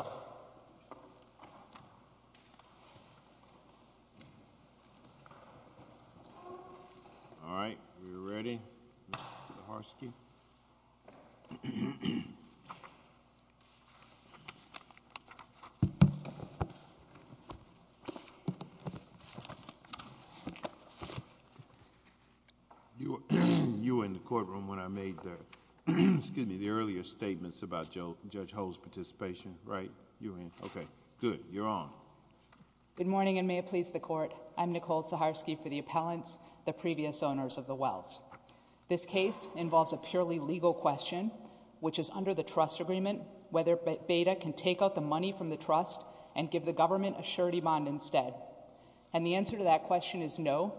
All right, we are ready. You were in the courtroom when I made the earlier statements about Judge Hull's participation, right? You were in. Okay, good. You're on. Good morning, and may it please the Court. I'm Nicole Saharsky for the appellants, the previous owners of the Wells. This case involves a purely legal question, which is under the trust agreement, whether Beta can take out the money from the trust and give the government a surety bond instead. And the answer to that question is no,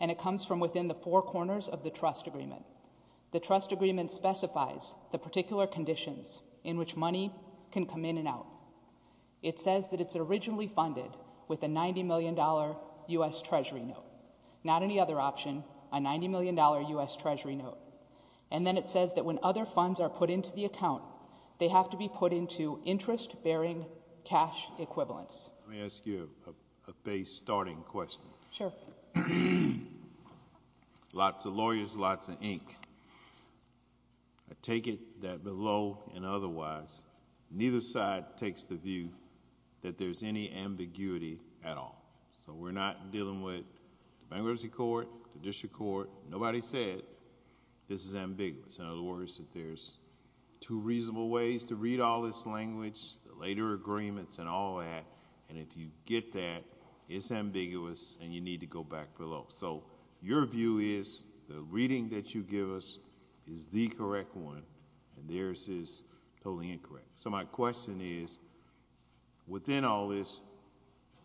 and it comes from within the four corners of the trust agreement. The trust agreement specifies the particular conditions in which money can come in and out. It says that it's originally funded with a $90 million U.S. Treasury note, not any other option, a $90 million U.S. Treasury note. And then it says that when other funds are put into the account, they have to be put into interest-bearing cash equivalents. Let me ask you a base starting question. Sure. Lots of lawyers, lots of ink. I take it that below and otherwise, neither side takes the view that there's any ambiguity at all. We're not dealing with the bankruptcy court, the district court. Nobody said this is ambiguous. In other words, that there's two reasonable ways to read all this language, the later agreements and all that, and if you get that, it's ambiguous and you need to go back below. Your view is the reading that you give us is the correct one and theirs is totally incorrect. So my question is, within all this,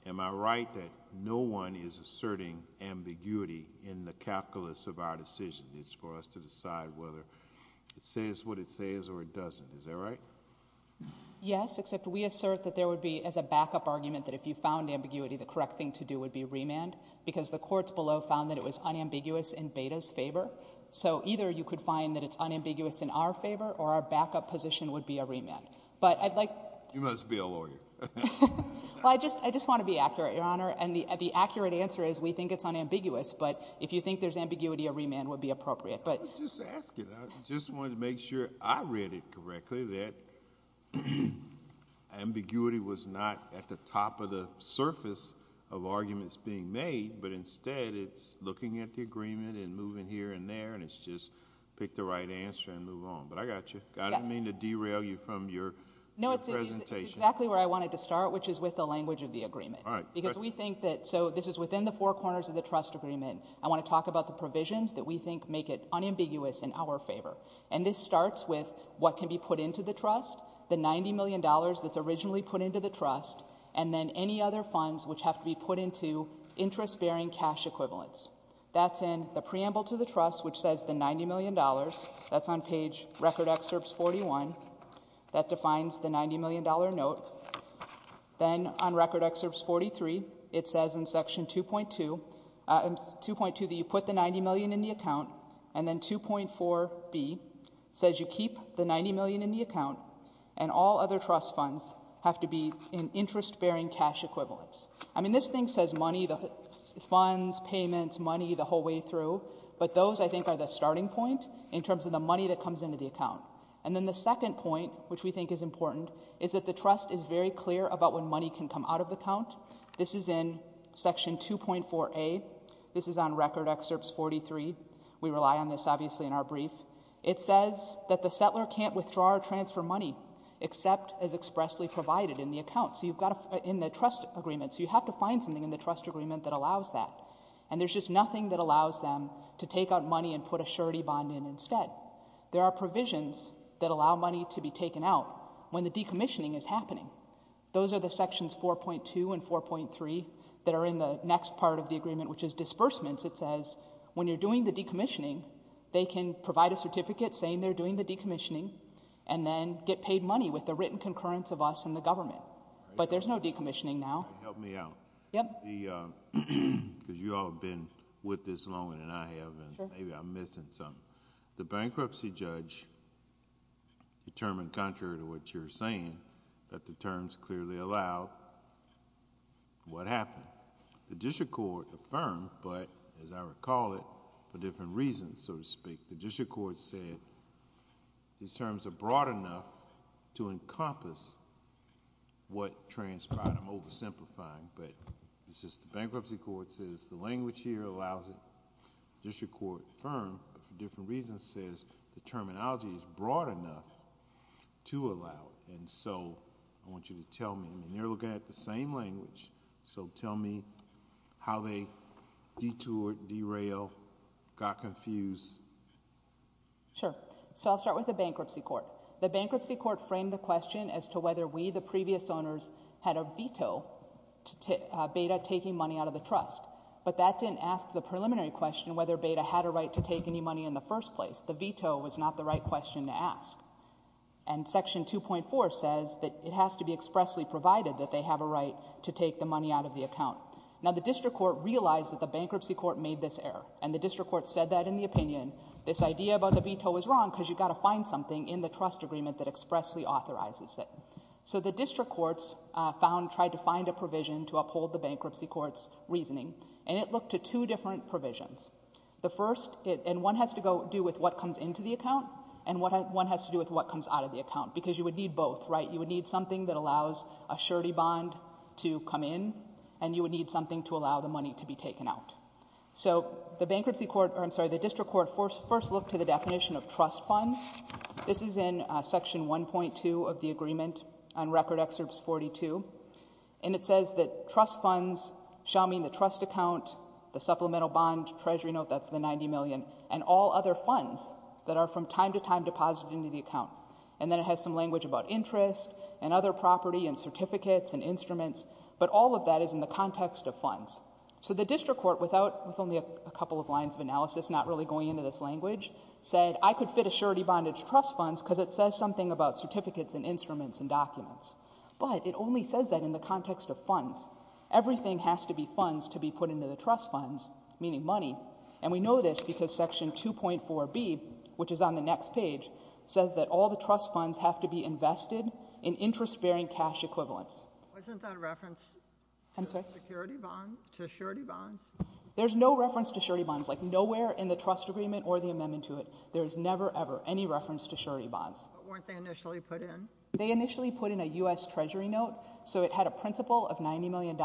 am I right that no one is asserting ambiguity in the calculus of our decision? It's for us to decide whether it says what it says or it doesn't, is that right? Yes, except we assert that there would be, as a backup argument, that if you found ambiguity, the correct thing to do would be remand, because the courts below found that it was unambiguous in Beda's favor. So either you could find that it's unambiguous in our favor or our backup position would be a remand. But I'd like... You must be a lawyer. Well, I just want to be accurate, Your Honor, and the accurate answer is we think it's unambiguous, but if you think there's ambiguity, a remand would be appropriate, but... I was just asking. I just wanted to make sure I read it correctly, that ambiguity was not at the top of the surface of arguments being made, but instead it's looking at the agreement and moving here and there and it's just pick the right answer and move on. But I got you. Yes. I didn't mean to derail you from your presentation. No, it's exactly where I wanted to start, which is with the language of the agreement. All right. Because we think that... So this is within the four corners of the trust agreement. I want to talk about the provisions that we think make it unambiguous in our favor. And this starts with what can be put into the trust, the $90 million that's originally put into the trust, and then any other funds which have to be put into interest-bearing cash equivalents. That's in the preamble to the trust, which says the $90 million. That's on page Record Excerpts 41. That defines the $90 million note. Then on Record Excerpts 43, it says in Section 2.2 that you put the $90 million in the account, and then 2.4b says you keep the $90 million in the account, and all other trust funds have to be in interest-bearing cash equivalents. I mean, this thing says money, the funds, payments, money, the whole way through, but those, I think, are the starting point in terms of the money that comes into the account. And then the second point, which we think is important, is that the trust is very clear about when money can come out of the account. This is in Section 2.4a. This is on Record Excerpts 43. We rely on this, obviously, in our brief. It says that the settler can't withdraw or transfer money except as expressly provided in the account. So you've got to... In the trust agreement. So you have to find something in the trust agreement that allows that. And there's just nothing that allows them to take out money and put a surety bond in instead. There are provisions that allow money to be taken out when the decommissioning is happening. Those are the Sections 4.2 and 4.3 that are in the next part of the agreement, which is disbursements. It says when you're doing the decommissioning, they can provide a certificate saying they're doing the decommissioning, and then get paid money with the written concurrence of us and the government. But there's no decommissioning now. All right. Help me out. Yep. Because you all have been with this longer than I have, and maybe I'm missing something. The bankruptcy judge determined, contrary to what you're saying, that the terms clearly allow what happened. The district court affirmed, but, as I recall it, for different reasons, so to speak. The district court said these terms are broad enough to encompass what transpired. I'm oversimplifying. But it's just the bankruptcy court says the language here allows it. The district court affirmed, but for different reasons, says the terminology is broad enough to allow it. And so I want you to tell me, and you're looking at the same language, so tell me how they detoured, derailed, got confused. Sure. So I'll start with the bankruptcy court. The bankruptcy court framed the question as to whether we, the previous owners, had a right to take any money out of the trust. But that didn't ask the preliminary question whether Beda had a right to take any money in the first place. The veto was not the right question to ask. And section 2.4 says that it has to be expressly provided that they have a right to take the money out of the account. Now the district court realized that the bankruptcy court made this error. And the district court said that in the opinion. This idea about the veto was wrong because you've got to find something in the trust agreement that expressly authorizes it. So the district courts found, tried to find a provision to uphold the bankruptcy court's reasoning. And it looked to two different provisions. The first, and one has to do with what comes into the account, and one has to do with what comes out of the account. Because you would need both, right? You would need something that allows a surety bond to come in, and you would need something to allow the money to be taken out. So the bankruptcy court, or I'm sorry, the district court first looked to the definition of trust funds. This is in section 1.2 of the agreement on record excerpts 42. And it says that trust funds shall mean the trust account, the supplemental bond, treasury note, that's the 90 million, and all other funds that are from time to time deposited into the account. And then it has some language about interest and other property and certificates and instruments. But all of that is in the context of funds. So the district court, without, with only a couple of lines of analysis, not really going into this language, said, I could fit a surety bond into trust funds because it says something about certificates and instruments and documents. But it only says that in the context of funds. Everything has to be funds to be put into the trust funds, meaning money. And we know this because section 2.4b, which is on the next page, says that all the trust funds have to be invested in interest-bearing cash equivalents. Wasn't that a reference to a surety bond? There's no reference to surety bonds, like nowhere in the trust agreement or the amendment to it. There is never, ever any reference to surety bonds. But weren't they initially put in? They initially put in a U.S. treasury note. So it had a principal of $90 million.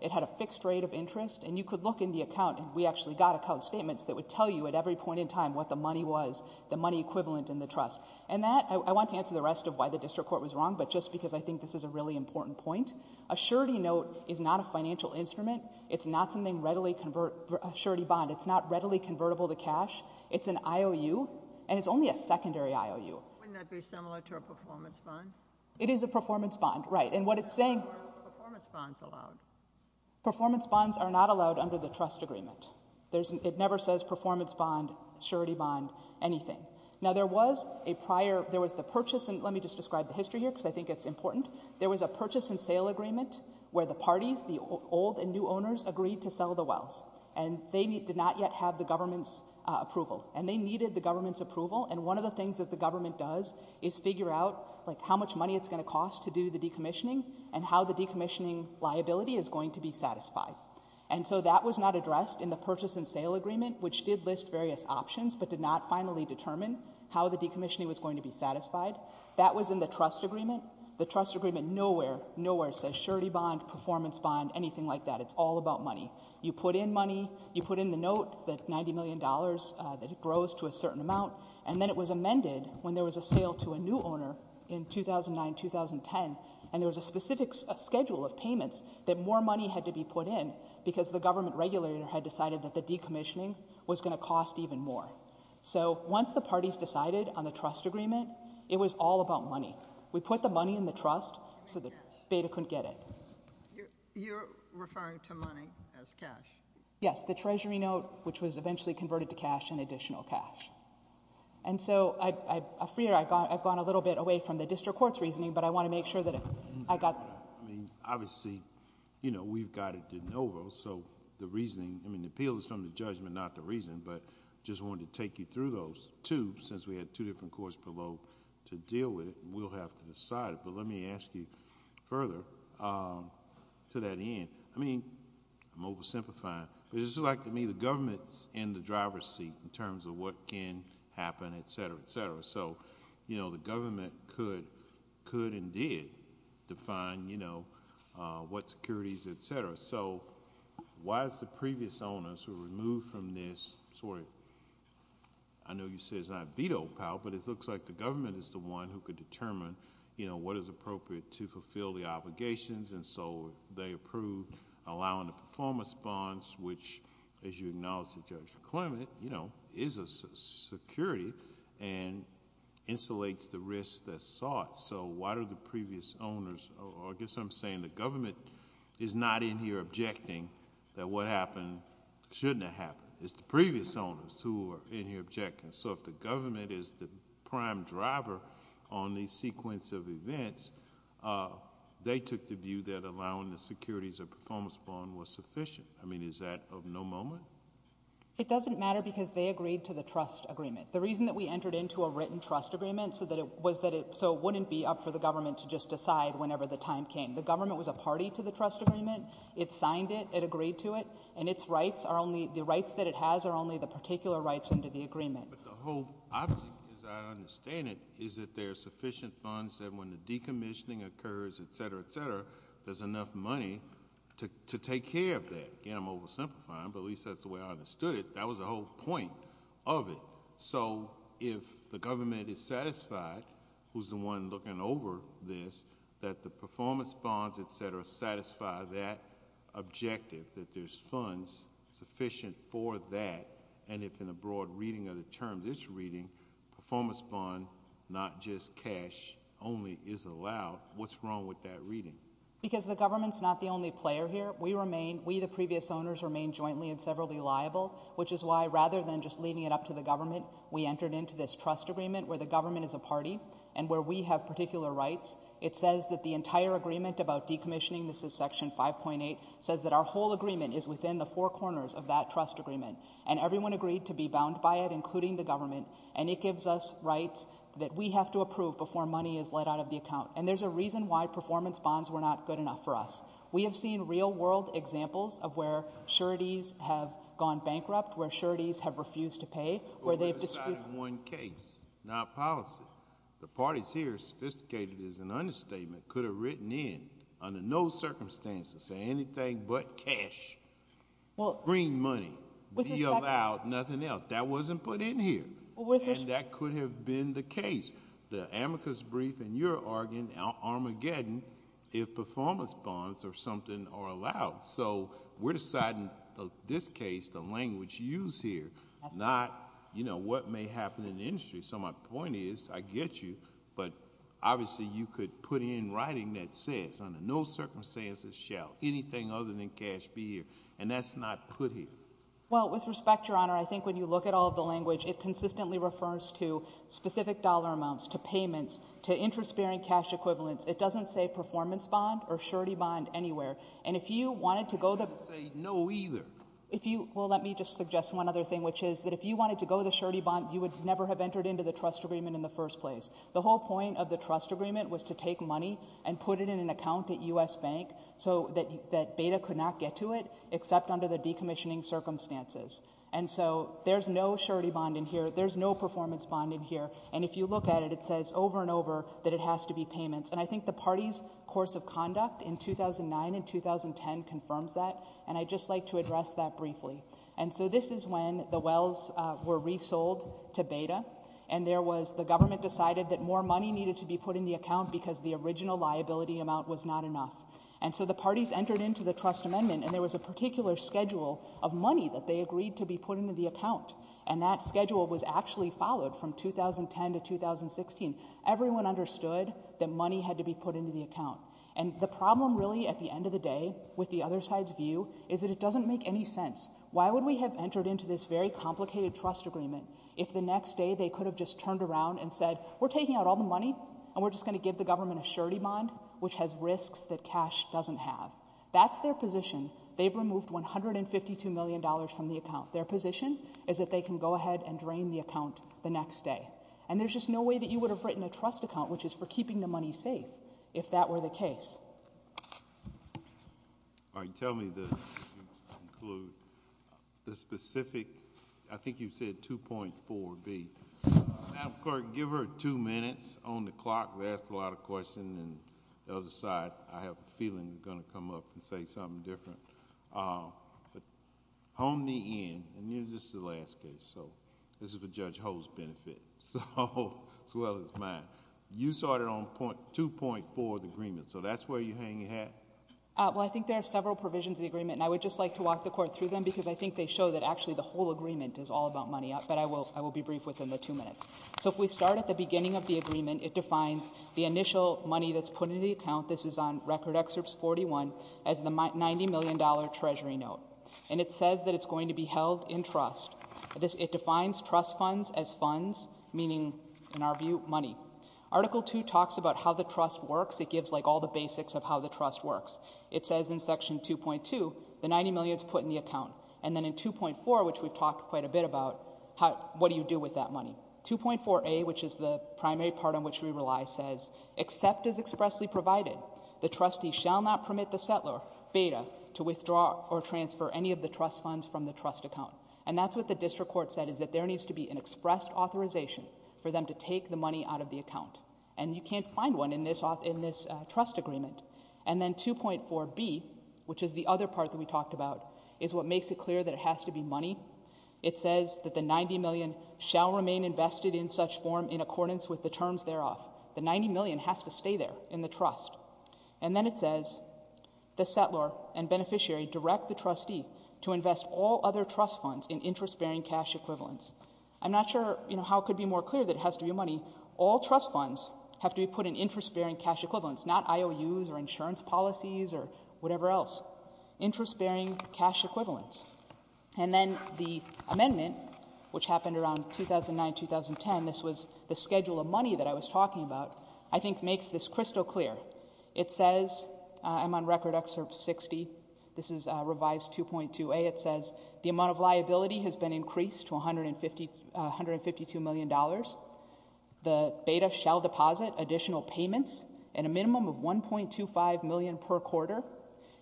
It had a fixed rate of interest. And you could look in the account, and we actually got account statements that would tell you at every point in time what the money was, the money equivalent in the trust. And that, I want to answer the rest of why the district court was wrong, but just because I think this is a really important point. A surety note is not a financial instrument. It's not something readily convertible, a surety bond. It's not readily convertible to cash. It's an IOU. And it's only a secondary IOU. Wouldn't that be similar to a performance bond? It is a performance bond. Right. And what it's saying... Are performance bonds allowed? Performance bonds are not allowed under the trust agreement. It never says performance bond, surety bond, anything. Now there was a prior, there was the purchase, and let me just describe the history here because I think it's important. There was a purchase and sale agreement where the parties, the old and new owners, agreed to sell the wells. And they did not yet have the government's approval. And they needed the government's approval. And one of the things that the government does is figure out, like, how much money it's going to cost to do the decommissioning, and how the decommissioning liability is going to be satisfied. And so that was not addressed in the purchase and sale agreement, which did list various options but did not finally determine how the decommissioning was going to be satisfied. That was in the trust agreement. The trust agreement nowhere, nowhere says surety bond, performance bond, anything like that. It's all about money. You put in money. You put in the note that $90 million, that it grows to a certain amount. And then it was amended when there was a sale to a new owner in 2009, 2010. And there was a specific schedule of payments that more money had to be put in because the government regulator had decided that the decommissioning was going to cost even more. So once the parties decided on the trust agreement, it was all about money. We put the money in the trust so that Beda couldn't get it. You're referring to money as cash? Yes. The treasury note, which was eventually converted to cash and additional cash. And so, I'm afraid I've gone a little bit away from the district court's reasoning, but I want to make sure that I got... I mean, obviously, you know, we've got a de novo, so the reasoning... I mean, the appeal is from the judgment, not the reason, but just wanted to take you through those two, since we had two different courts below to deal with it, and we'll have to decide it. But let me ask you further to that end. I mean, I'm oversimplifying, but it's just like to me, the government's in the driver's seat in terms of what can happen, et cetera, et cetera. So you know, the government could and did define, you know, what securities, et cetera. So why is the previous owners who were removed from this sort of... I know you say it's not veto power, but it looks like the government is the one who could determine, you know, what is appropriate to fulfill the obligations, and so they approved allowing the performance bonds, which, as you acknowledged to Judge Clement, you know, is a security and insulates the risk that's sought. So why do the previous owners... or I guess I'm saying the government is not in here objecting that what happened shouldn't have happened. It's the previous owners who are in here objecting. So if the government is the prime driver on the sequence of events, they took the view that allowing the securities or performance bond was sufficient. I mean, is that of no moment? It doesn't matter because they agreed to the trust agreement. The reason that we entered into a written trust agreement was so it wouldn't be up for the government to just decide whenever the time came. The government was a party to the trust agreement. It signed it. It agreed to it. And its rights are only... the rights that it has are only the particular rights under the agreement. But the whole object, as I understand it, is that there are sufficient funds that when the decommissioning occurs, et cetera, et cetera, there's enough money to take care of that. Again, I'm oversimplifying, but at least that's the way I understood it. That was the whole point of it. So if the government is satisfied, who's the one looking over this, that the performance bonds, et cetera, satisfy that objective, that there's funds sufficient for that, and if in a broad reading of the terms it's reading, performance bond, not just cash only, is allowed, what's wrong with that reading? Because the government's not the only player here. We remain... we, the previous owners, remain jointly and severally liable, which is why rather than just leaving it up to the government, we entered into this trust agreement where the government is a party and where we have particular rights. It says that the entire agreement about decommissioning, this is Section 5.8, says that our whole agreement is within the four corners of that trust agreement. And everyone agreed to be bound by it, including the government. And it gives us rights that we have to approve before money is let out of the account. And there's a reason why performance bonds were not good enough for us. We have seen real world examples of where sureties have gone bankrupt, where sureties have refused to pay, where they've... But we're deciding one case, not policy. The parties here, sophisticated as an understatement, could have written in under no circumstances saying anything but cash, green money, deal out, nothing else. That wasn't put in here. Well, with respect... And that could have been the case. The amicus brief in your argument, Armageddon, if performance bonds or something are allowed. So we're deciding this case, the language used here, not, you know, what may happen in the industry. So my point is, I get you, but obviously you could put in writing that says under no circumstances shall anything other than cash be here. And that's not put here. Well, with respect, Your Honor, I think when you look at all of the language, it consistently refers to specific dollar amounts, to payments, to interest-bearing cash equivalents. It doesn't say performance bond or surety bond anywhere. And if you wanted to go... I'm not going to say no either. If you... Well, let me just suggest one other thing, which is that if you wanted to go the surety bond, you would never have entered into the trust agreement in the first place. The whole point of the trust agreement was to take money and put it in an account at U.S. Bank so that Beda could not get to it except under the decommissioning circumstances. And so there's no surety bond in here. There's no performance bond in here. And if you look at it, it says over and over that it has to be payments. And I think the party's course of conduct in 2009 and 2010 confirms that. And I'd just like to address that briefly. And so this is when the wells were resold to Beda, and there was... the government decided that more money needed to be put in the account because the original liability amount was not enough. And so the parties entered into the trust amendment, and there was a particular schedule of money that they agreed to be put into the account. And that schedule was actually followed from 2010 to 2016. Everyone understood that money had to be put into the account. And the problem really at the end of the day with the other side's view is that it doesn't make any sense. Why would we have entered into this very complicated trust agreement if the next day they could have just turned around and said, we're taking out all the money, and we're just going to give the government a surety bond, which has risks that cash doesn't have? That's their position. They've removed $152 million from the account. Their position is that they can go ahead and drain the account the next day. And there's just no way that you would have written a trust account, which is for keeping the money safe, if that were the case. All right. Tell me the specific... I think you said 2.4B. Madam Clerk, give her two minutes on the clock. We asked a lot of questions, and the other side, I have a feeling, is going to come up and say something different. But hone me in, and this is the last case, so this is for Judge Hoh's benefit, as well as mine. You started on 2.4 of the agreement, so that's where you're hanging your hat? Well, I think there are several provisions of the agreement, and I would just like to walk the Court through them, because I think they show that actually the whole agreement is all about money. But I will be brief within the two minutes. So if we start at the beginning of the agreement, it defines the initial money that's put in the account. This is on Record Excerpt 41, as the $90 million Treasury note. And it says that it's going to be held in trust. It defines trust funds as funds, meaning, in our view, money. Article 2 talks about how the trust works. It gives, like, all the basics of how the trust works. It says in Section 2.2, the $90 million is put in the account. And then in 2.4, which we've talked quite a bit about, what do you do with that money? 2.4a, which is the primary part on which we rely, says, except as expressly provided, the trustee shall not permit the settler, Beta, to withdraw or transfer any of the trust funds from the trust account. And that's what the District Court said, is that there needs to be an expressed authorization for them to take the money out of the account. And you can't find one in this trust agreement. And then 2.4b, which is the other part that we talked about, is what makes it clear that it has to be money. It says that the $90 million shall remain invested in such form in accordance with the terms thereof. The $90 million has to stay there in the trust. And then it says, the settler and beneficiary direct the trustee to invest all other trust funds in interest-bearing cash equivalents. I'm not sure, you know, how it could be more clear that it has to be money. All trust funds have to be put in interest-bearing cash equivalents, not IOUs or insurance policies or whatever else. Interest-bearing cash equivalents. And then the amendment, which happened around 2009-2010, this was the schedule of money that I was talking about, I think makes this crystal clear. It says, I'm on record excerpt 60, this is revised 2.2a, it says, the amount of liability has been increased to $152 million. The beta shall deposit additional payments at a minimum of $1.25 million per quarter.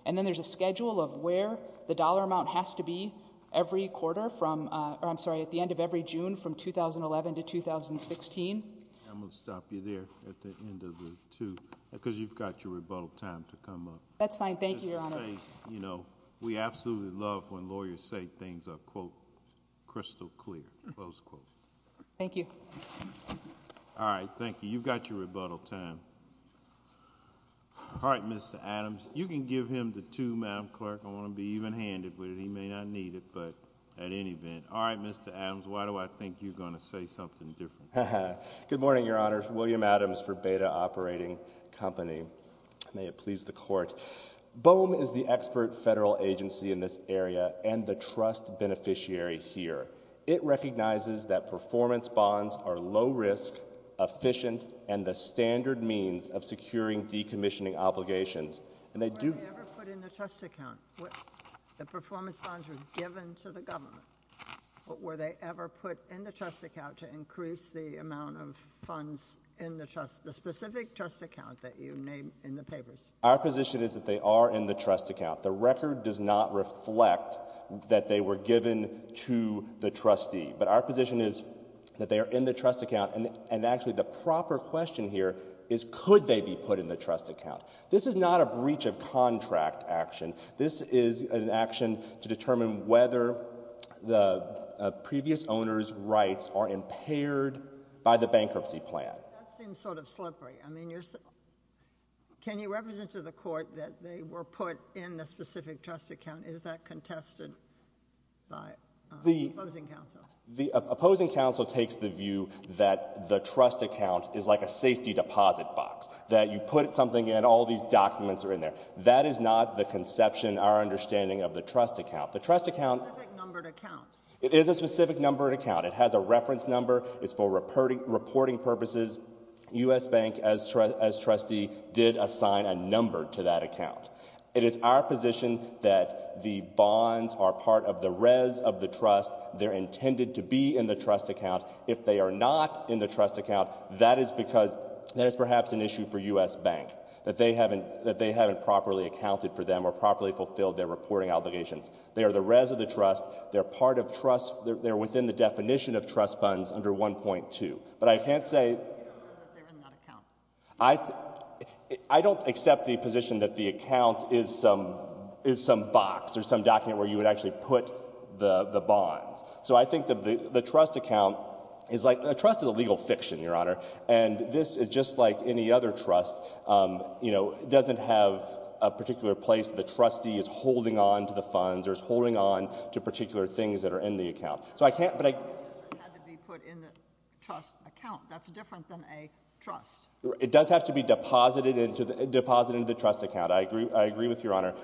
And then there's a schedule of where the dollar amount has to be every quarter from, or I'm sorry, at the end of every June from 2011 to 2016. I'm going to stop you there at the end of the two, because you've got your rebuttal time to come up. That's fine. Thank you, Your Honor. You know, we absolutely love when lawyers say things are, quote, crystal clear, close quote. Thank you. All right. Thank you. You've got your rebuttal time. All right, Mr. Adams. You can give him the two, Madam Clerk. I want to be even-handed with it. He may not need it, but at any event. All right, Mr. Adams, why do I think you're going to say something different? Good morning, Your Honor. William Adams for Beta Operating Company. May it please the Court. BOEM is the expert federal agency in this area and the trust beneficiary here. It recognizes that performance bonds are low-risk, efficient, and the standard means of securing decommissioning obligations. Were they ever put in the trust account? The performance bonds were given to the government. But were they ever put in the trust account to increase the amount of funds in the trust, the specific trust account that you named in the papers? Our position is that they are in the trust account. The record does not reflect that they were given to the trustee. But our position is that they are in the trust account. This is not a breach of contract action. This is an action to determine whether the previous owner's rights are impaired by the bankruptcy plan. That seems sort of slippery. I mean, you're — can you represent to the Court that they were put in the specific trust account? Is that contested by the opposing counsel? The opposing counsel takes the view that the trust account is like a safety deposit box, that you put something in, all these documents are in there. That is not the conception, our understanding, of the trust account. The trust account — Specific numbered account. It is a specific numbered account. It has a reference number. It's for reporting purposes. U.S. Bank, as trustee, did assign a number to that account. It is our position that the bonds are part of the res of the trust. They're intended to be in the trust account. If they are not in the trust account, that is because — that is perhaps an issue for U.S. Bank, that they haven't — that they haven't properly accounted for them or properly fulfilled their reporting obligations. They are the res of the trust. They're part of trust — they're within the definition of trust funds under 1.2. But I can't say — You don't know that they're in that account. I don't accept the position that the account is some box or some document where you would actually put the bonds. So I think that the trust account is like — a trust is a legal fiction, Your Honor. And this is just like any other trust, you know, doesn't have a particular place that the trustee is holding on to the funds or is holding on to particular things that are in the account. So I can't — But it doesn't have to be put in the trust account. That's different than a trust. It does have to be deposited into the — deposited into the trust account. I agree — I agree with Your Honor.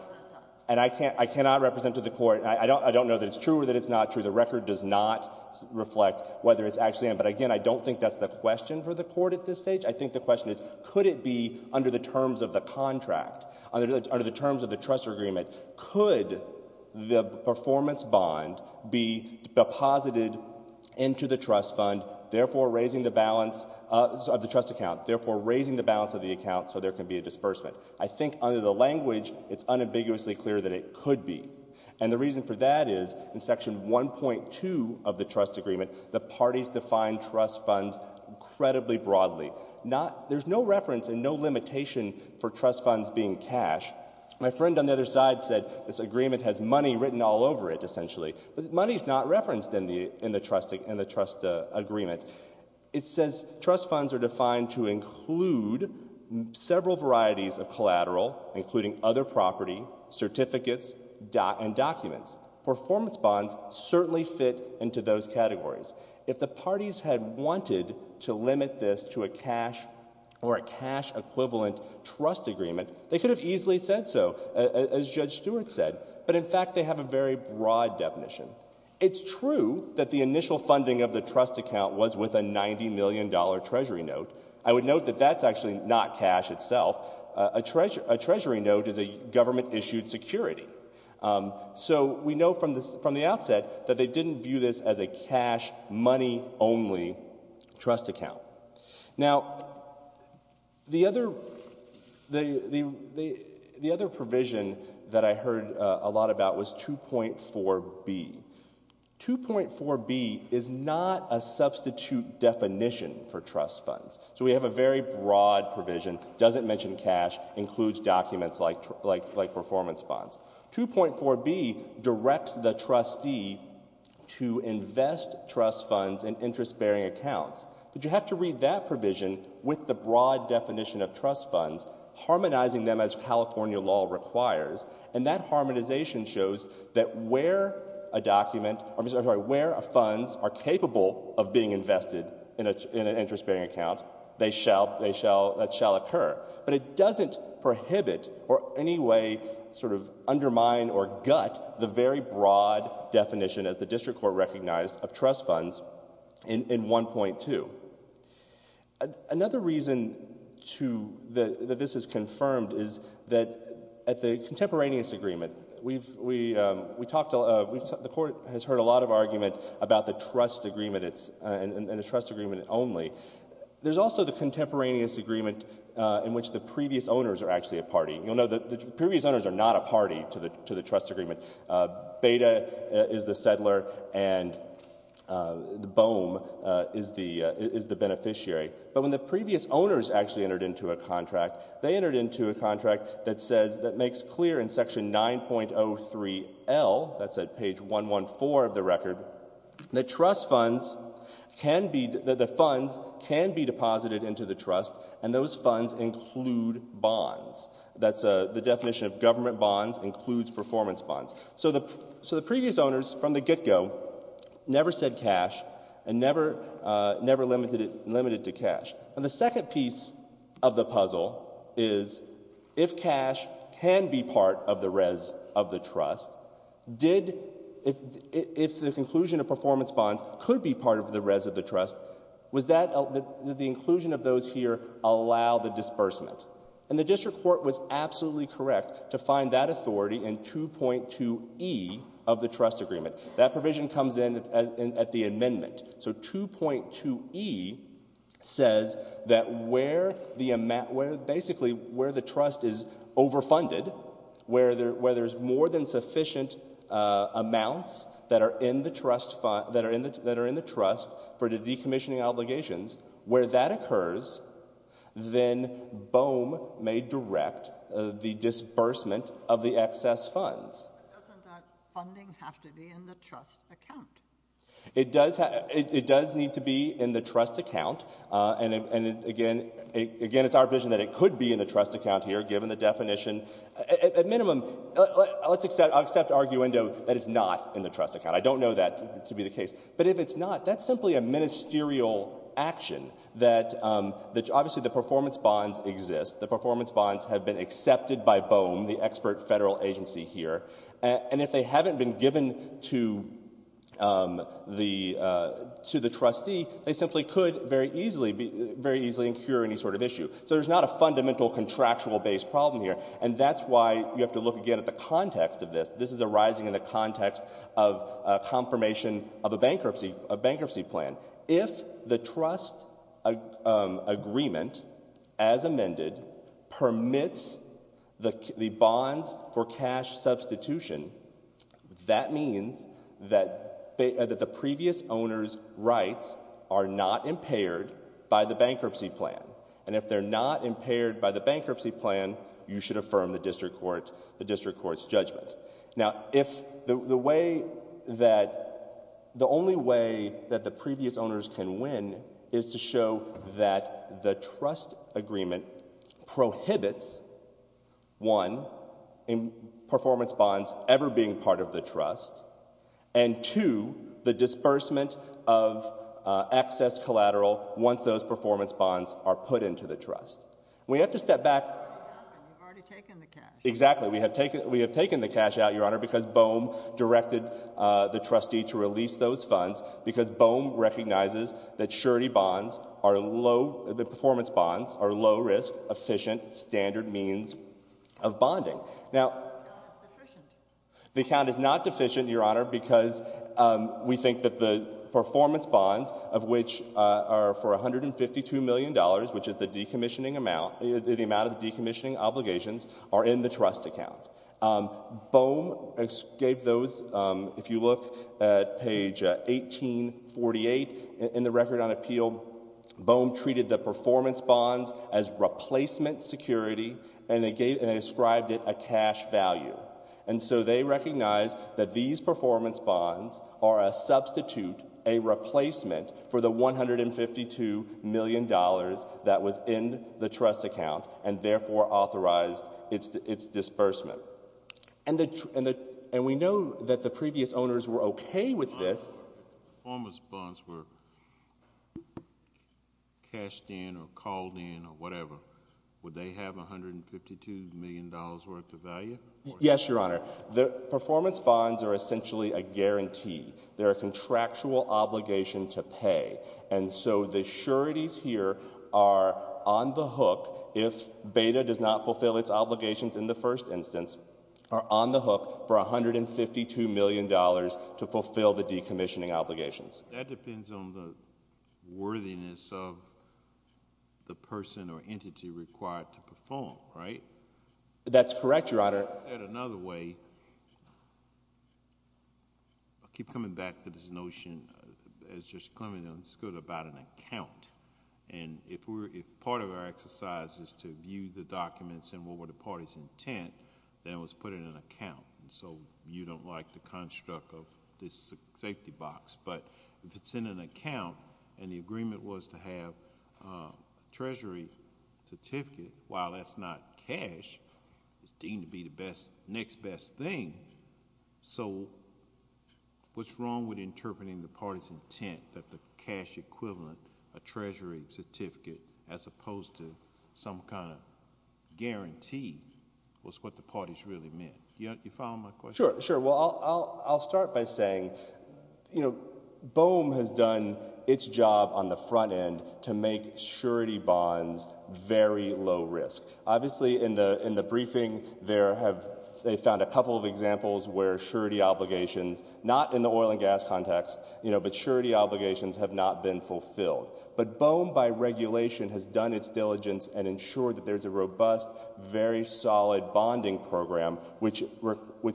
And I can't — I cannot represent to the Court — I don't know that it's true or that the record does not reflect whether it's actually in. But again, I don't think that's the question for the Court at this stage. I think the question is, could it be under the terms of the contract, under the terms of the trust agreement, could the performance bond be deposited into the trust fund, therefore raising the balance of the trust account, therefore raising the balance of the account so there can be a disbursement? I think under the language, it's unambiguously clear that it could be. And the reason for that is, in Section 1.2 of the trust agreement, the parties define trust funds incredibly broadly, not — there's no reference and no limitation for trust funds being cash. My friend on the other side said this agreement has money written all over it, essentially. But money's not referenced in the trust agreement. It says trust funds are defined to include several varieties of collateral, including other property, certificates, and documents. Performance bonds certainly fit into those categories. If the parties had wanted to limit this to a cash or a cash-equivalent trust agreement, they could have easily said so, as Judge Stewart said. But in fact, they have a very broad definition. It's true that the initial funding of the trust account was with a $90 million Treasury note. I would note that that's actually not cash itself. A Treasury note is a government-issued security. So we know from the outset that they didn't view this as a cash, money-only trust account. Now, the other provision that I heard a lot about was 2.4b. 2.4b is not a substitute definition for trust funds. So we have a very broad provision, doesn't mention cash, includes documents like performance bonds. 2.4b directs the trustee to invest trust funds in interest-bearing accounts. But you have to read that provision with the broad definition of trust funds, harmonizing them as California law requires. And that harmonization shows that where a document—I'm sorry, where funds are capable of being invested in an interest-bearing account, that shall occur. But it doesn't prohibit or in any way undermine or gut the very broad definition, as the District Court recognized, of trust funds in 1.2. Another reason that this is confirmed is that at the contemporaneous agreement, we talked The Court has heard a lot of argument about the trust agreement and the trust agreement only. There's also the contemporaneous agreement in which the previous owners are actually a party. You'll know that the previous owners are not a party to the trust agreement. Beta is the settler, and the BOEM is the beneficiary. But when the previous owners actually entered into a contract, they entered into a contract that makes clear in Section 9.03L—that's at page 114 of the record—that the funds can be deposited into the trust, and those funds include bonds. That's the definition of government bonds includes performance bonds. So the previous owners, from the get-go, never said cash and never limited it to cash. The second piece of the puzzle is, if cash can be part of the res of the trust, if the conclusion of performance bonds could be part of the res of the trust, did the inclusion of those here allow the disbursement? The District Court was absolutely correct to find that authority in 2.2e of the trust agreement. That provision comes in at the amendment. So 2.2e says that where the trust is overfunded, where there's more than sufficient amounts that are in the trust for the decommissioning obligations, where that occurs, then BOEM may direct the disbursement of the excess funds. But doesn't that funding have to be in the trust account? It does need to be in the trust account, and again, it's our vision that it could be in the trust account here, given the definition. At minimum, I'll accept arguendo that it's not in the trust account. I don't know that to be the case. But if it's not, that's simply a ministerial action that—obviously, the performance bonds exist. The performance bonds have been accepted by BOEM, the expert federal agency here. And if they haven't been given to the trustee, they simply could very easily incur any sort of issue. So there's not a fundamental contractual-based problem here. And that's why you have to look again at the context of this. This is arising in the context of confirmation of a bankruptcy plan. If the trust agreement, as amended, permits the bonds for cash substitution, that means that the previous owner's rights are not impaired by the bankruptcy plan. And if they're not impaired by the bankruptcy plan, you should affirm the district court's judgment. Now, if—the way that—the only way that the previous owners can win is to show that the trust agreement prohibits, one, performance bonds ever being part of the trust, and two, the disbursement of excess collateral once those performance bonds are put into the trust. We have to step back— You've already taken the cash. Exactly. We have taken the cash out, Your Honor, because BOEM directed the trustee to release those funds because BOEM recognizes that surety bonds are low—that performance bonds are low-risk, efficient, standard means of bonding. Now— The account is deficient. The account is not deficient, Your Honor, because we think that the performance bonds, of which are for $152 million, which is the decommissioning amount—the amount of decommissioning obligations—are in the trust account. BOEM gave those—if you look at page 1848 in the Record on Appeal, BOEM treated the performance bonds as replacement security, and they gave—and they ascribed it a cash value. And so they recognize that these performance bonds are a substitute, a replacement, for the $152 million that was in the trust account, and therefore authorized its disbursement. And we know that the previous owners were okay with this— If the performance bonds were cashed in or called in or whatever, would they have $152 million worth of value? Yes, Your Honor. The performance bonds are essentially a guarantee. They're a contractual obligation to pay. And so the sureties here are on the hook—if Beda does not fulfill its obligations in the first instance—are on the hook for $152 million to fulfill the decommissioning obligations. That depends on the worthiness of the person or entity required to perform, right? That's correct, Your Honor. I'll say it another way. I keep coming back to this notion, as Judge Clement understood it, about an account. And if part of our exercise is to view the documents and what were the parties' intent, then it was put in an account. So you don't like the construct of this safety box. But if it's in an account, and the agreement was to have a treasury certificate, while that's not cash, it's deemed to be the next best thing. So what's wrong with interpreting the parties' intent that the cash equivalent, a treasury certificate, as opposed to some kind of guarantee, was what the parties really meant? Do you follow my question? Sure. Well, I'll start by saying, you know, BOEM has done its job on the front end to make Obviously, in the briefing, they found a couple of examples where surety obligations, not in the oil and gas context, but surety obligations have not been fulfilled. But BOEM, by regulation, has done its diligence and ensured that there's a robust, very solid bonding program, which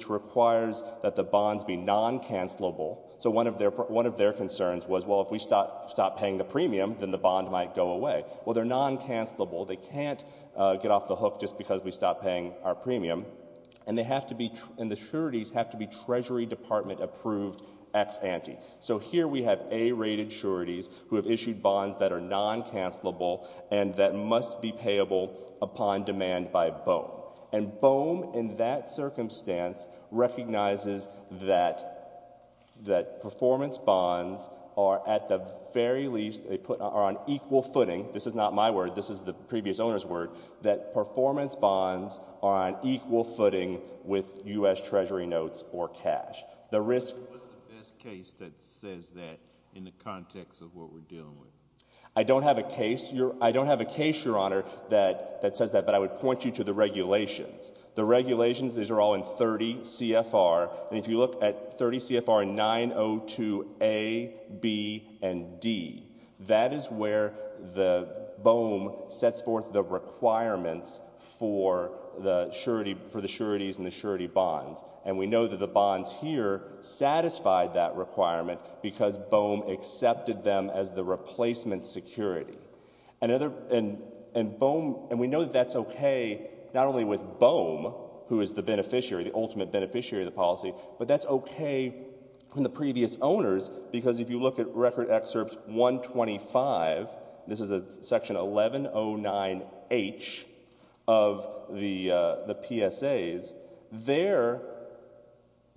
requires that the bonds be non-cancellable. So one of their concerns was, well, if we stop paying the premium, then the bond might go away. Well, they're non-cancellable. They can't get off the hook just because we stop paying our premium. And they have to be—and the sureties have to be Treasury Department-approved ex-ante. So here we have A-rated sureties who have issued bonds that are non-cancellable and that must be payable upon demand by BOEM. And BOEM, in that circumstance, recognizes that performance bonds are, at the very least, on equal footing. This is not my word. This is the previous owner's word, that performance bonds are on equal footing with U.S. Treasury notes or cash. The risk— What's the best case that says that in the context of what we're dealing with? I don't have a case, Your Honor, that says that, but I would point you to the regulations. The regulations, these are all in 30 CFR, and if you look at 30 CFR 902A, B, and D, that is where the BOEM sets forth the requirements for the sureties and the surety bonds. And we know that the bonds here satisfied that requirement because BOEM accepted them as the replacement security. And BOEM—and we know that that's okay not only with BOEM, who is the beneficiary, the ultimate beneficiary of the policy, but that's okay in the previous owners because if you look at Record Excerpt 125, this is Section 1109H of the PSAs, there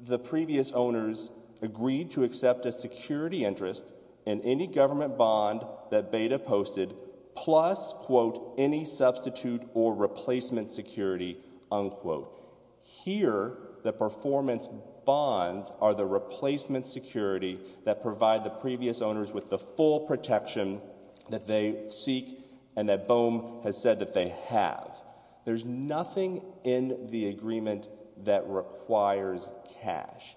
the previous owners agreed to accept a security interest in any government bond that Beda posted plus, quote, any substitute or replacement security, unquote. Here, the performance bonds are the replacement security that provide the previous owners with the full protection that they seek and that BOEM has said that they have. There's nothing in the agreement that requires cash.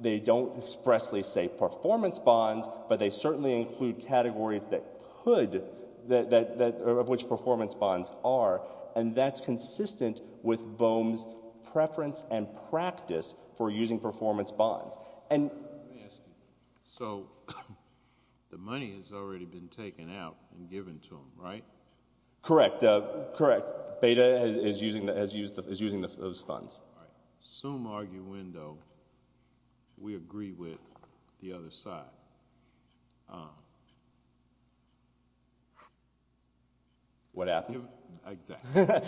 They don't expressly say performance bonds, but they certainly include categories that of which performance bonds are, and that's consistent with BOEM's preference and practice for using performance bonds. And— Let me ask you. So the money has already been taken out and given to them, right? Correct. Correct. Beda is using those funds. All right. So in the Zoom argue window, we agree with the other side. What happens? Exactly.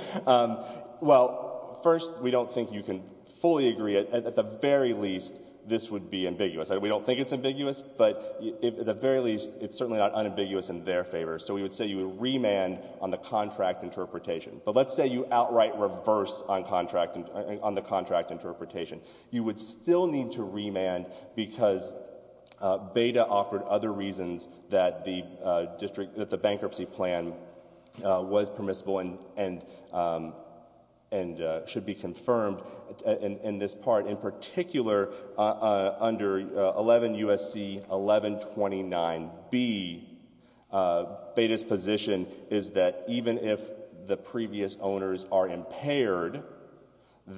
Well, first, we don't think you can fully agree. At the very least, this would be ambiguous. We don't think it's ambiguous, but at the very least, it's certainly not unambiguous in their favor. So we would say you would remand on the contract interpretation, but let's say you outright reverse on the contract interpretation. You would still need to remand because Beda offered other reasons that the bankruptcy plan was permissible and should be confirmed in this part. In particular, under 11 U.S.C. 1129B, Beda's position is that even if the previous owners are impaired,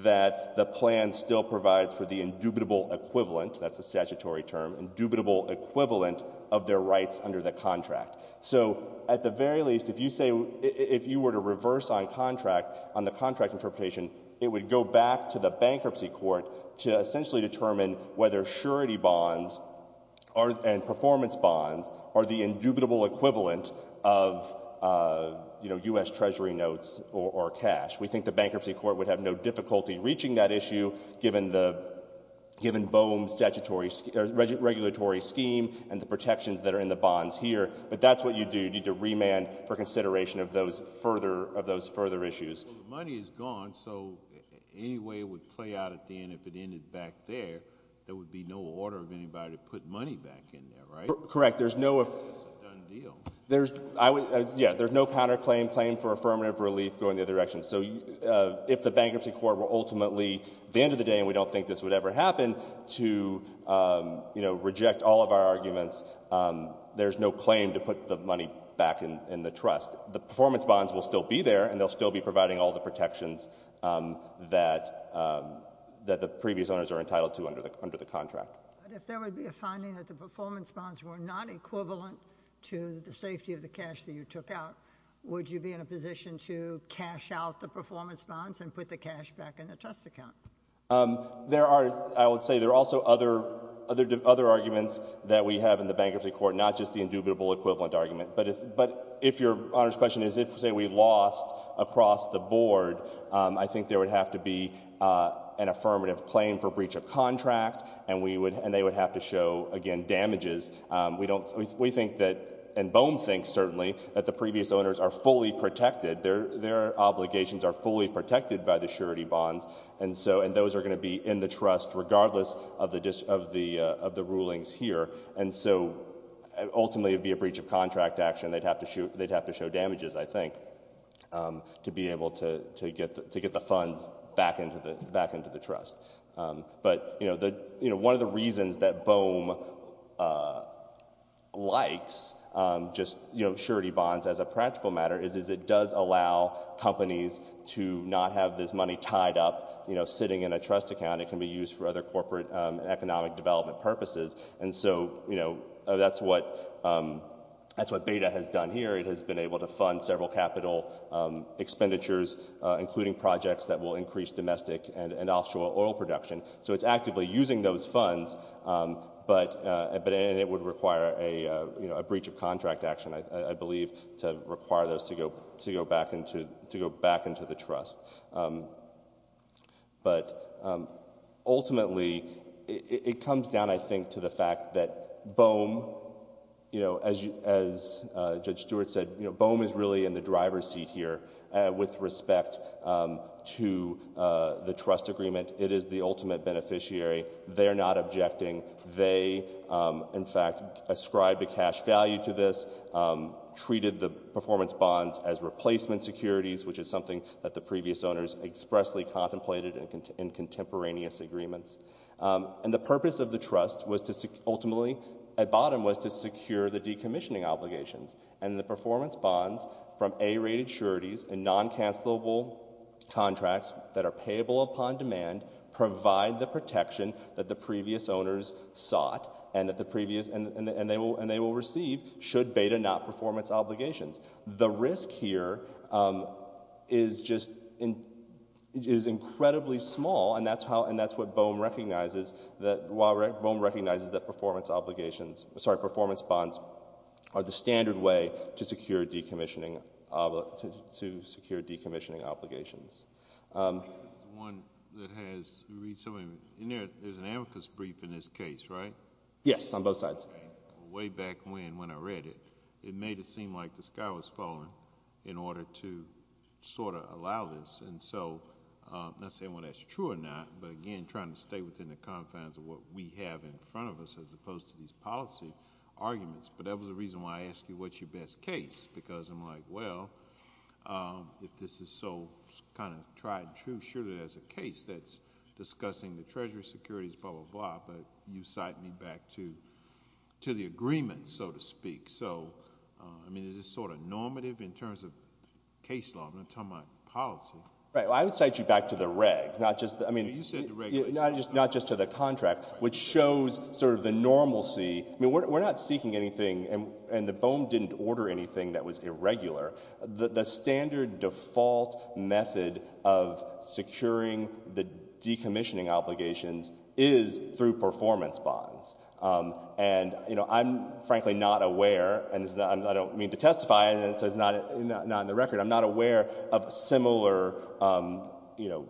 that the plan still provides for the indubitable equivalent—that's the statutory term—indubitable equivalent of their rights under the contract. So at the very least, if you say—if you were to reverse on contract—on the contract interpretation, it would go back to the bankruptcy court to essentially determine whether surety bonds and performance bonds are the indubitable equivalent of, you know, U.S. Treasury notes or cash. We think the bankruptcy court would have no difficulty reaching that issue given the—given BOEM's statutory—regulatory scheme and the protections that are in the bonds here, but that's what you do. You need to remand for consideration of those further—of those further issues. Well, the money is gone, so any way it would play out at the end, if it ended back there, there would be no order of anybody to put money back in there, right? Correct. There's no— It's just a done deal. There's—I would—yeah, there's no counterclaim—claim for affirmative relief going the other direction. So if the bankruptcy court were ultimately—at the end of the day, and we don't think this would ever happen—to, you know, reject all of our arguments, there's no claim to put the money back in the trust. The performance bonds will still be there, and they'll still be providing all the protections that the previous owners are entitled to under the contract. But if there would be a finding that the performance bonds were not equivalent to the safety of the cash that you took out, would you be in a position to cash out the performance bonds and put the cash back in the trust account? There are—I would say there are also other—other arguments that we have in the bankruptcy court, not just the indubitable equivalent argument, but if your Honor's question is if, say, we lost across the board, I think there would have to be an affirmative claim for breach of contract, and we would—and they would have to show, again, damages. We don't—we think that—and Bohm thinks, certainly, that the previous owners are fully protected. Their—their obligations are fully protected by the surety bonds, and so—and those are going to be in the trust regardless of the—of the rulings here. And so, ultimately, it would be a breach of contract action. They'd have to show—they'd have to show damages, I think, to be able to get the funds back into the—back into the trust. But, you know, the—you know, one of the reasons that Bohm likes just, you know, surety bonds as a practical matter is it does allow companies to not have this money tied up, you know, sitting in a trust account. It can be used for other corporate and economic development purposes. And so, you know, that's what—that's what BEDA has done here. It has been able to fund several capital expenditures, including projects that will increase domestic and offshore oil production. So it's actively using those funds, but—and it would require a, you know, a breach of contract action, I believe, to require those to go—to go back into—to go back into the trust. But ultimately, it comes down, I think, to the fact that Bohm, you know, as Judge Stewart said, you know, Bohm is really in the driver's seat here with respect to the trust agreement. It is the ultimate beneficiary. They're not objecting. They, in fact, ascribed a cash value to this, treated the performance bonds as replacement securities, which is something that the previous owners expressly contemplated in contemporaneous agreements. And the purpose of the trust was to—ultimately, at bottom, was to secure the decommissioning obligations. And the performance bonds from A-rated securities and non-cancellable contracts that are payable upon demand provide the protection that the previous owners sought and that the previous—and they will receive should BEDA not perform its obligations. The risk here is just—is incredibly small, and that's how—and that's what Bohm recognizes that—while Bohm recognizes that performance obligations—sorry, performance bonds are the standard way to secure decommissioning—to secure decommissioning obligations. I think this is one that has recently—in there, there's an amicus brief in this case, right? Yes, on both sides. Way back when, when I read it, it made it seem like the sky was falling in order to sort of allow this. And so, I'm not saying whether that's true or not, but again, trying to stay within the confines of what we have in front of us, as opposed to these policy arguments. But that was the reason why I asked you, what's your best case, because I'm like, well, if this is so kind of tried and true, surely there's a case that's discussing the treasury securities, blah, blah, blah, but you cite me back to the agreement, so to speak. So, I mean, is this sort of normative in terms of case law? I'm going to tell my policy. Right. Well, I would cite you back to the regs, not just— You said the regs. Not just to the contract, which shows sort of the normalcy—I mean, we're not seeking anything, and the BOEM didn't order anything that was irregular. The standard default method of securing the decommissioning obligations is through performance bonds. And, you know, I'm frankly not aware, and I don't mean to testify, and it says not in the record, I'm not aware of similar, you know,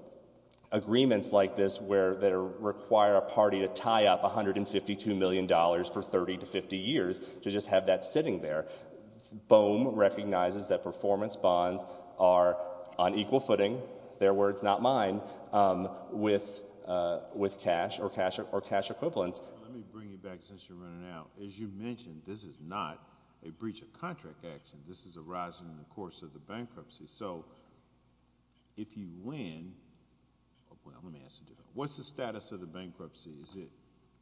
agreements like this where they require a party to tie up $152 million for 30 to 50 years to just have that sitting there. BOEM recognizes that performance bonds are on equal footing—their words, not mine—with cash or cash equivalents. Let me bring you back, since you're running out. As you mentioned, this is not a breach of contract action. This is arising in the course of the bankruptcy, so if you win—well, let me ask a different—what's the status of the bankruptcy? Is it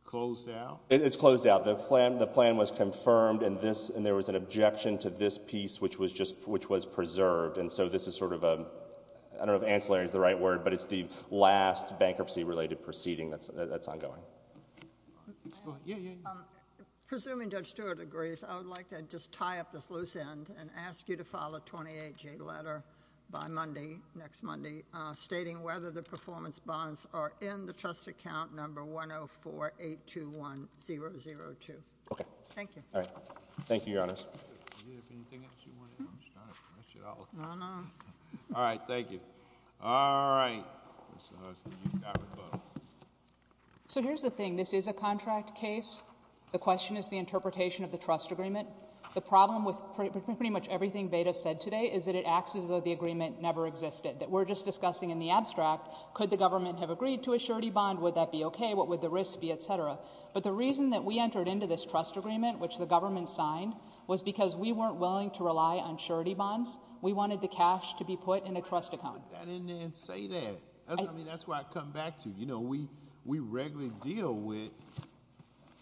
closed out? It's closed out. The plan was confirmed, and there was an objection to this piece, which was preserved, and so this is sort of a—I don't know if ancillary is the right word, but it's the last bankruptcy-related proceeding that's ongoing. Yeah, yeah, yeah. Presuming Judge Stewart agrees, I would like to just tie up this loose end and ask you to file a 28-J letter by Monday, next Monday, stating whether the performance bonds are in the trust account number 104-821-002. Okay. Thank you. All right. Thank you, Your Honor. All right. Thank you. All right. Mr. Huskey, you've got me both. So here's the thing. This is a contract case. The question is the interpretation of the trust agreement. The problem with pretty much everything Beda said today is that it acts as though the agreement never existed, that we're just discussing in the abstract, could the government have agreed to a surety bond? Would that be okay? What would the risk be? Et cetera. But the reason that we entered into this trust agreement, which the government signed, was because we weren't willing to rely on surety bonds. We wanted the cash to be put in a trust account. Put that in there and say that. I mean, that's why I come back to you. You know, we regularly deal with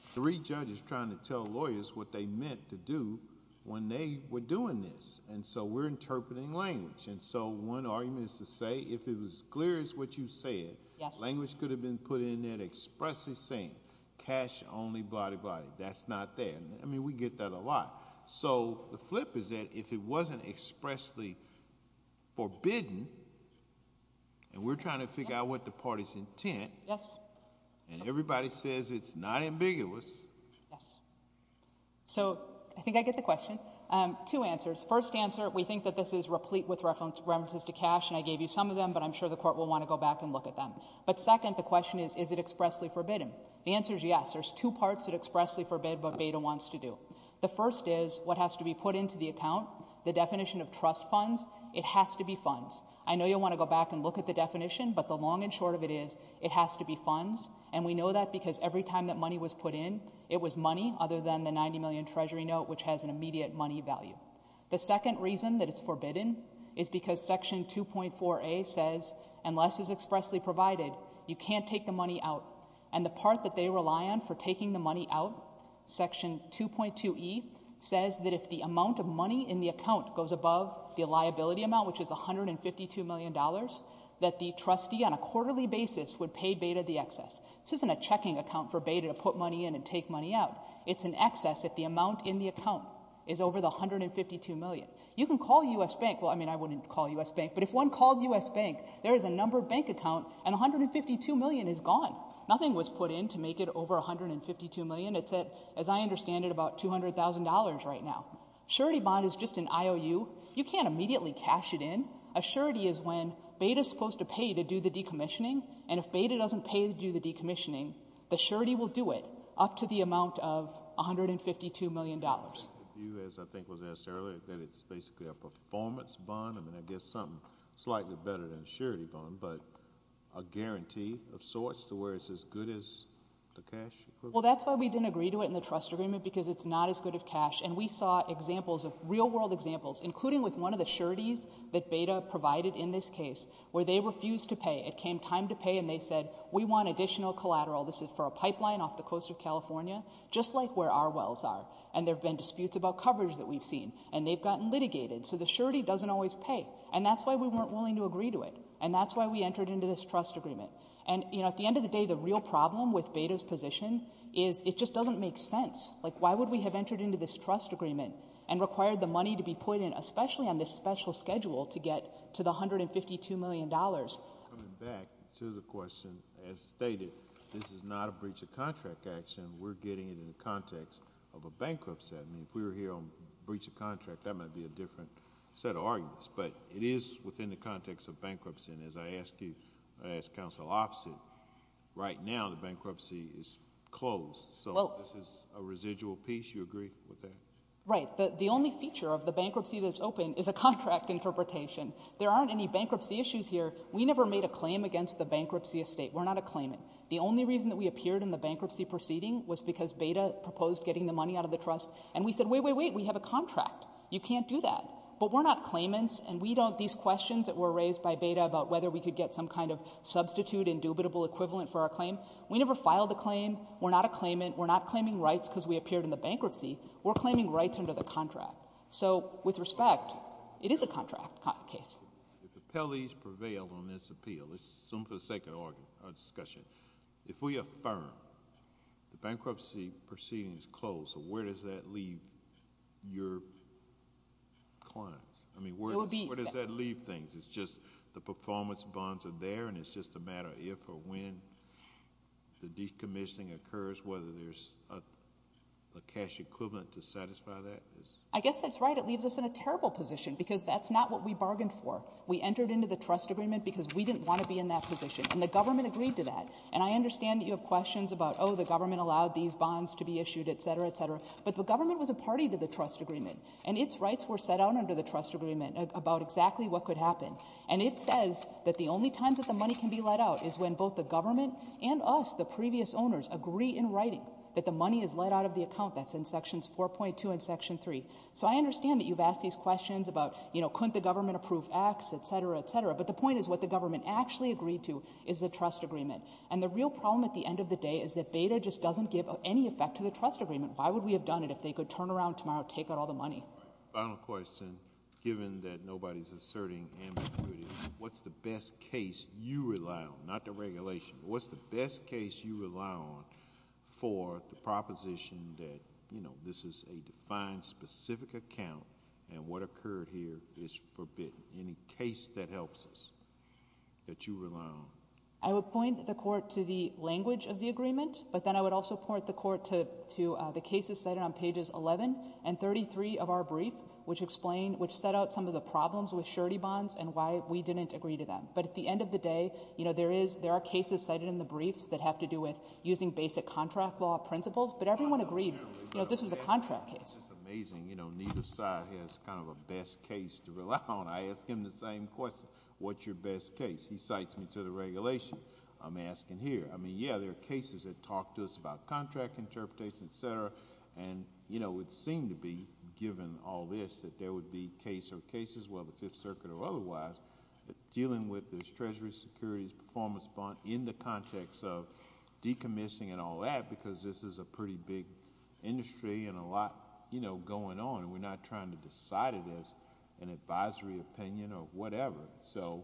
three judges trying to tell lawyers what they meant to do when they were doing this. And so we're interpreting language. And so one argument is to say, if it was clear as what you said, language could have been put in there expressly saying, cash only, blah, blah, blah. That's not there. I mean, we get that a lot. So the flip is that if it wasn't expressly forbidden, and we're trying to figure out what the party's intent, and everybody says it's not ambiguous. So I think I get the question. Two answers. First answer, we think that this is replete with references to cash, and I gave you some of them. But I'm sure the court will want to go back and look at them. But second, the question is, is it expressly forbidden? The answer is yes. There's two parts that expressly forbid what Beda wants to do. The first is, what has to be put into the account? The definition of trust funds? It has to be funds. I know you'll want to go back and look at the definition, but the long and short of it is, it has to be funds. And we know that because every time that money was put in, it was money other than the $90 million Treasury note, which has an immediate money value. The second reason that it's forbidden is because Section 2.4a says, unless it's expressly provided, you can't take the money out. And the part that they rely on for taking the money out, Section 2.2e, says that if the amount of money in the account goes above the liability amount, which is $152 million, that the trustee on a quarterly basis would pay Beda the excess. This isn't a checking account for Beda to put money in and take money out. It's an excess if the amount in the account is over the $152 million. You can call U.S. Bank. Well, I mean, I wouldn't call U.S. Bank. But if one called U.S. Bank, there is a number bank account, and $152 million is gone. Nothing was put in to make it over $152 million. It's at, as I understand it, about $200,000 right now. Surety bond is just an IOU. You can't immediately cash it in. A surety is when Beda is supposed to pay to do the decommissioning. And if Beda doesn't pay to do the decommissioning, the surety will do it up to the amount of $152 million. The view, as I think was asked earlier, that it's basically a performance bond. I mean, I guess something slightly better than a surety bond, but a guarantee of sorts to where it's as good as the cash equivalent? Well, that's why we didn't agree to it in the trust agreement, because it's not as good as cash. And we saw examples, real-world examples, including with one of the sureties that Beda provided in this case, where they refused to pay. It came time to pay, and they said, we want additional collateral. This is for a pipeline off the coast of California, just like where our wells are. And there have been disputes about coverage that we've seen. And they've gotten litigated. So the surety doesn't always pay. And that's why we weren't willing to agree to it. And that's why we entered into this trust agreement. And you know, at the end of the day, the real problem with Beda's position is it just doesn't make sense. Like, why would we have entered into this trust agreement and required the money to be put in, especially on this special schedule, to get to the $152 million? Coming back to the question, as stated, this is not a breach of contract action. We're getting it in the context of a bankruptcy. I mean, if we were here on breach of contract, that might be a different set of arguments. But it is within the context of bankruptcy. And as I ask you, I ask counsel opposite, right now the bankruptcy is closed. So this is a residual piece. You agree with that? Right. The only feature of the bankruptcy that's open is a contract interpretation. There aren't any bankruptcy issues here. We never made a claim against the bankruptcy estate. We're not a claimant. The only reason that we appeared in the bankruptcy proceeding was because Beda proposed getting the money out of the trust. And we said, wait, wait, wait. We have a contract. You can't do that. But we're not claimants. And we don't, these questions that were raised by Beda about whether we could get some kind of substitute indubitable equivalent for our claim, we never filed a claim. We're not a claimant. We're not claiming rights because we appeared in the bankruptcy. We're claiming rights under the contract. So with respect, it is a contract case. If the appellees prevail on this appeal, let's assume for the sake of our discussion, if we affirm the bankruptcy proceeding is closed, so where does that leave your clients? I mean, where does that leave things? It's just the performance bonds are there, and it's just a matter of if or when the decommissioning occurs, whether there's a cash equivalent to satisfy that? I guess that's right. It leaves us in a terrible position because that's not what we bargained for. We entered into the trust agreement because we didn't want to be in that position, and the government agreed to that. And I understand that you have questions about, oh, the government allowed these bonds to be issued, et cetera, et cetera. But the government was a party to the trust agreement, and its rights were set out under the trust agreement about exactly what could happen. And it says that the only times that the money can be let out is when both the government and us, the previous owners, agree in writing that the money is let out of the account. That's in sections 4.2 and section 3. So I understand that you've asked these questions about, you know, couldn't the government approve acts, et cetera, et cetera. But the point is what the government actually agreed to is the trust agreement. And the real problem at the end of the day is that BEDA just doesn't give any effect to the trust agreement. Why would we have done it if they could turn around tomorrow, take out all the money? Final question, given that nobody's asserting ambiguity, what's the best case you rely on, not the regulation, what's the best case you rely on for the proposition that, you know, this is a defined specific account, and what occurred here is forbidden? Any case that helps us that you rely on? I would point the court to the language of the agreement, but then I would also point the court to the cases cited on pages 11 and 33 of our brief, which explain, which set out some of the problems with surety bonds and why we didn't agree to them. But at the end of the day, you know, there is, there are cases cited in the briefs that have to do with using basic contract law principles, but everyone agreed, you know, this is a contract case. That's amazing. You know, neither side has kind of a best case to rely on. I ask him the same question. What's your best case? He cites me to the regulation. I'm asking here. I mean, yeah, there are cases that talk to us about contract interpretation, etc., and, you know, it seemed to be, given all this, that there would be case or cases, whether the Fifth Circuit or otherwise, dealing with this treasury securities performance bond in the context of decommissioning and all that, because this is a pretty big industry and a lot, you know, going on, and we're not trying to decide it as an advisory opinion or whatever. So,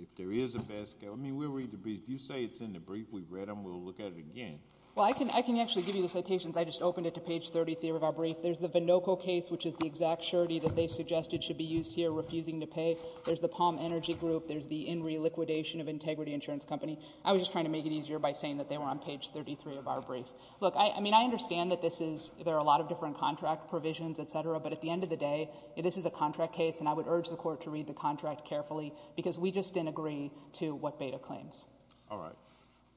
if there is a best... I mean, we'll read the brief. If you say it's in the brief, we've read them, we'll look at it again. Well, I can actually give you the citations. I just opened it to page 33 of our brief. There's the Vinoco case, which is the exact surety that they suggested should be used here, refusing to pay. There's the Palm Energy Group. There's the INRI liquidation of Integrity Insurance Company. I was just trying to make it easier by saying that they were on page 33 of our brief. Look, I mean, I understand that this is... there are a lot of different contract provisions, etc., but at the end of the day, this is a contract case, and I would urge the Court to read the contract carefully, because we just didn't agree to what Beda claims. All right.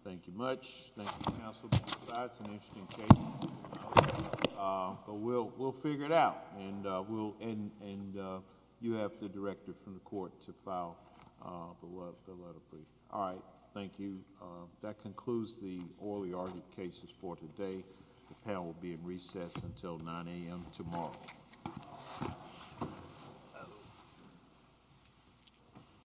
Thank you much. Thank you, counsel. Besides an interesting case, but we'll figure it out, and we'll... and you have the director from the court to file the letter, please. All right. Thank you. That concludes the Orly Ardent cases for today. The panel will be in recess until 9 a.m. tomorrow. Thank you.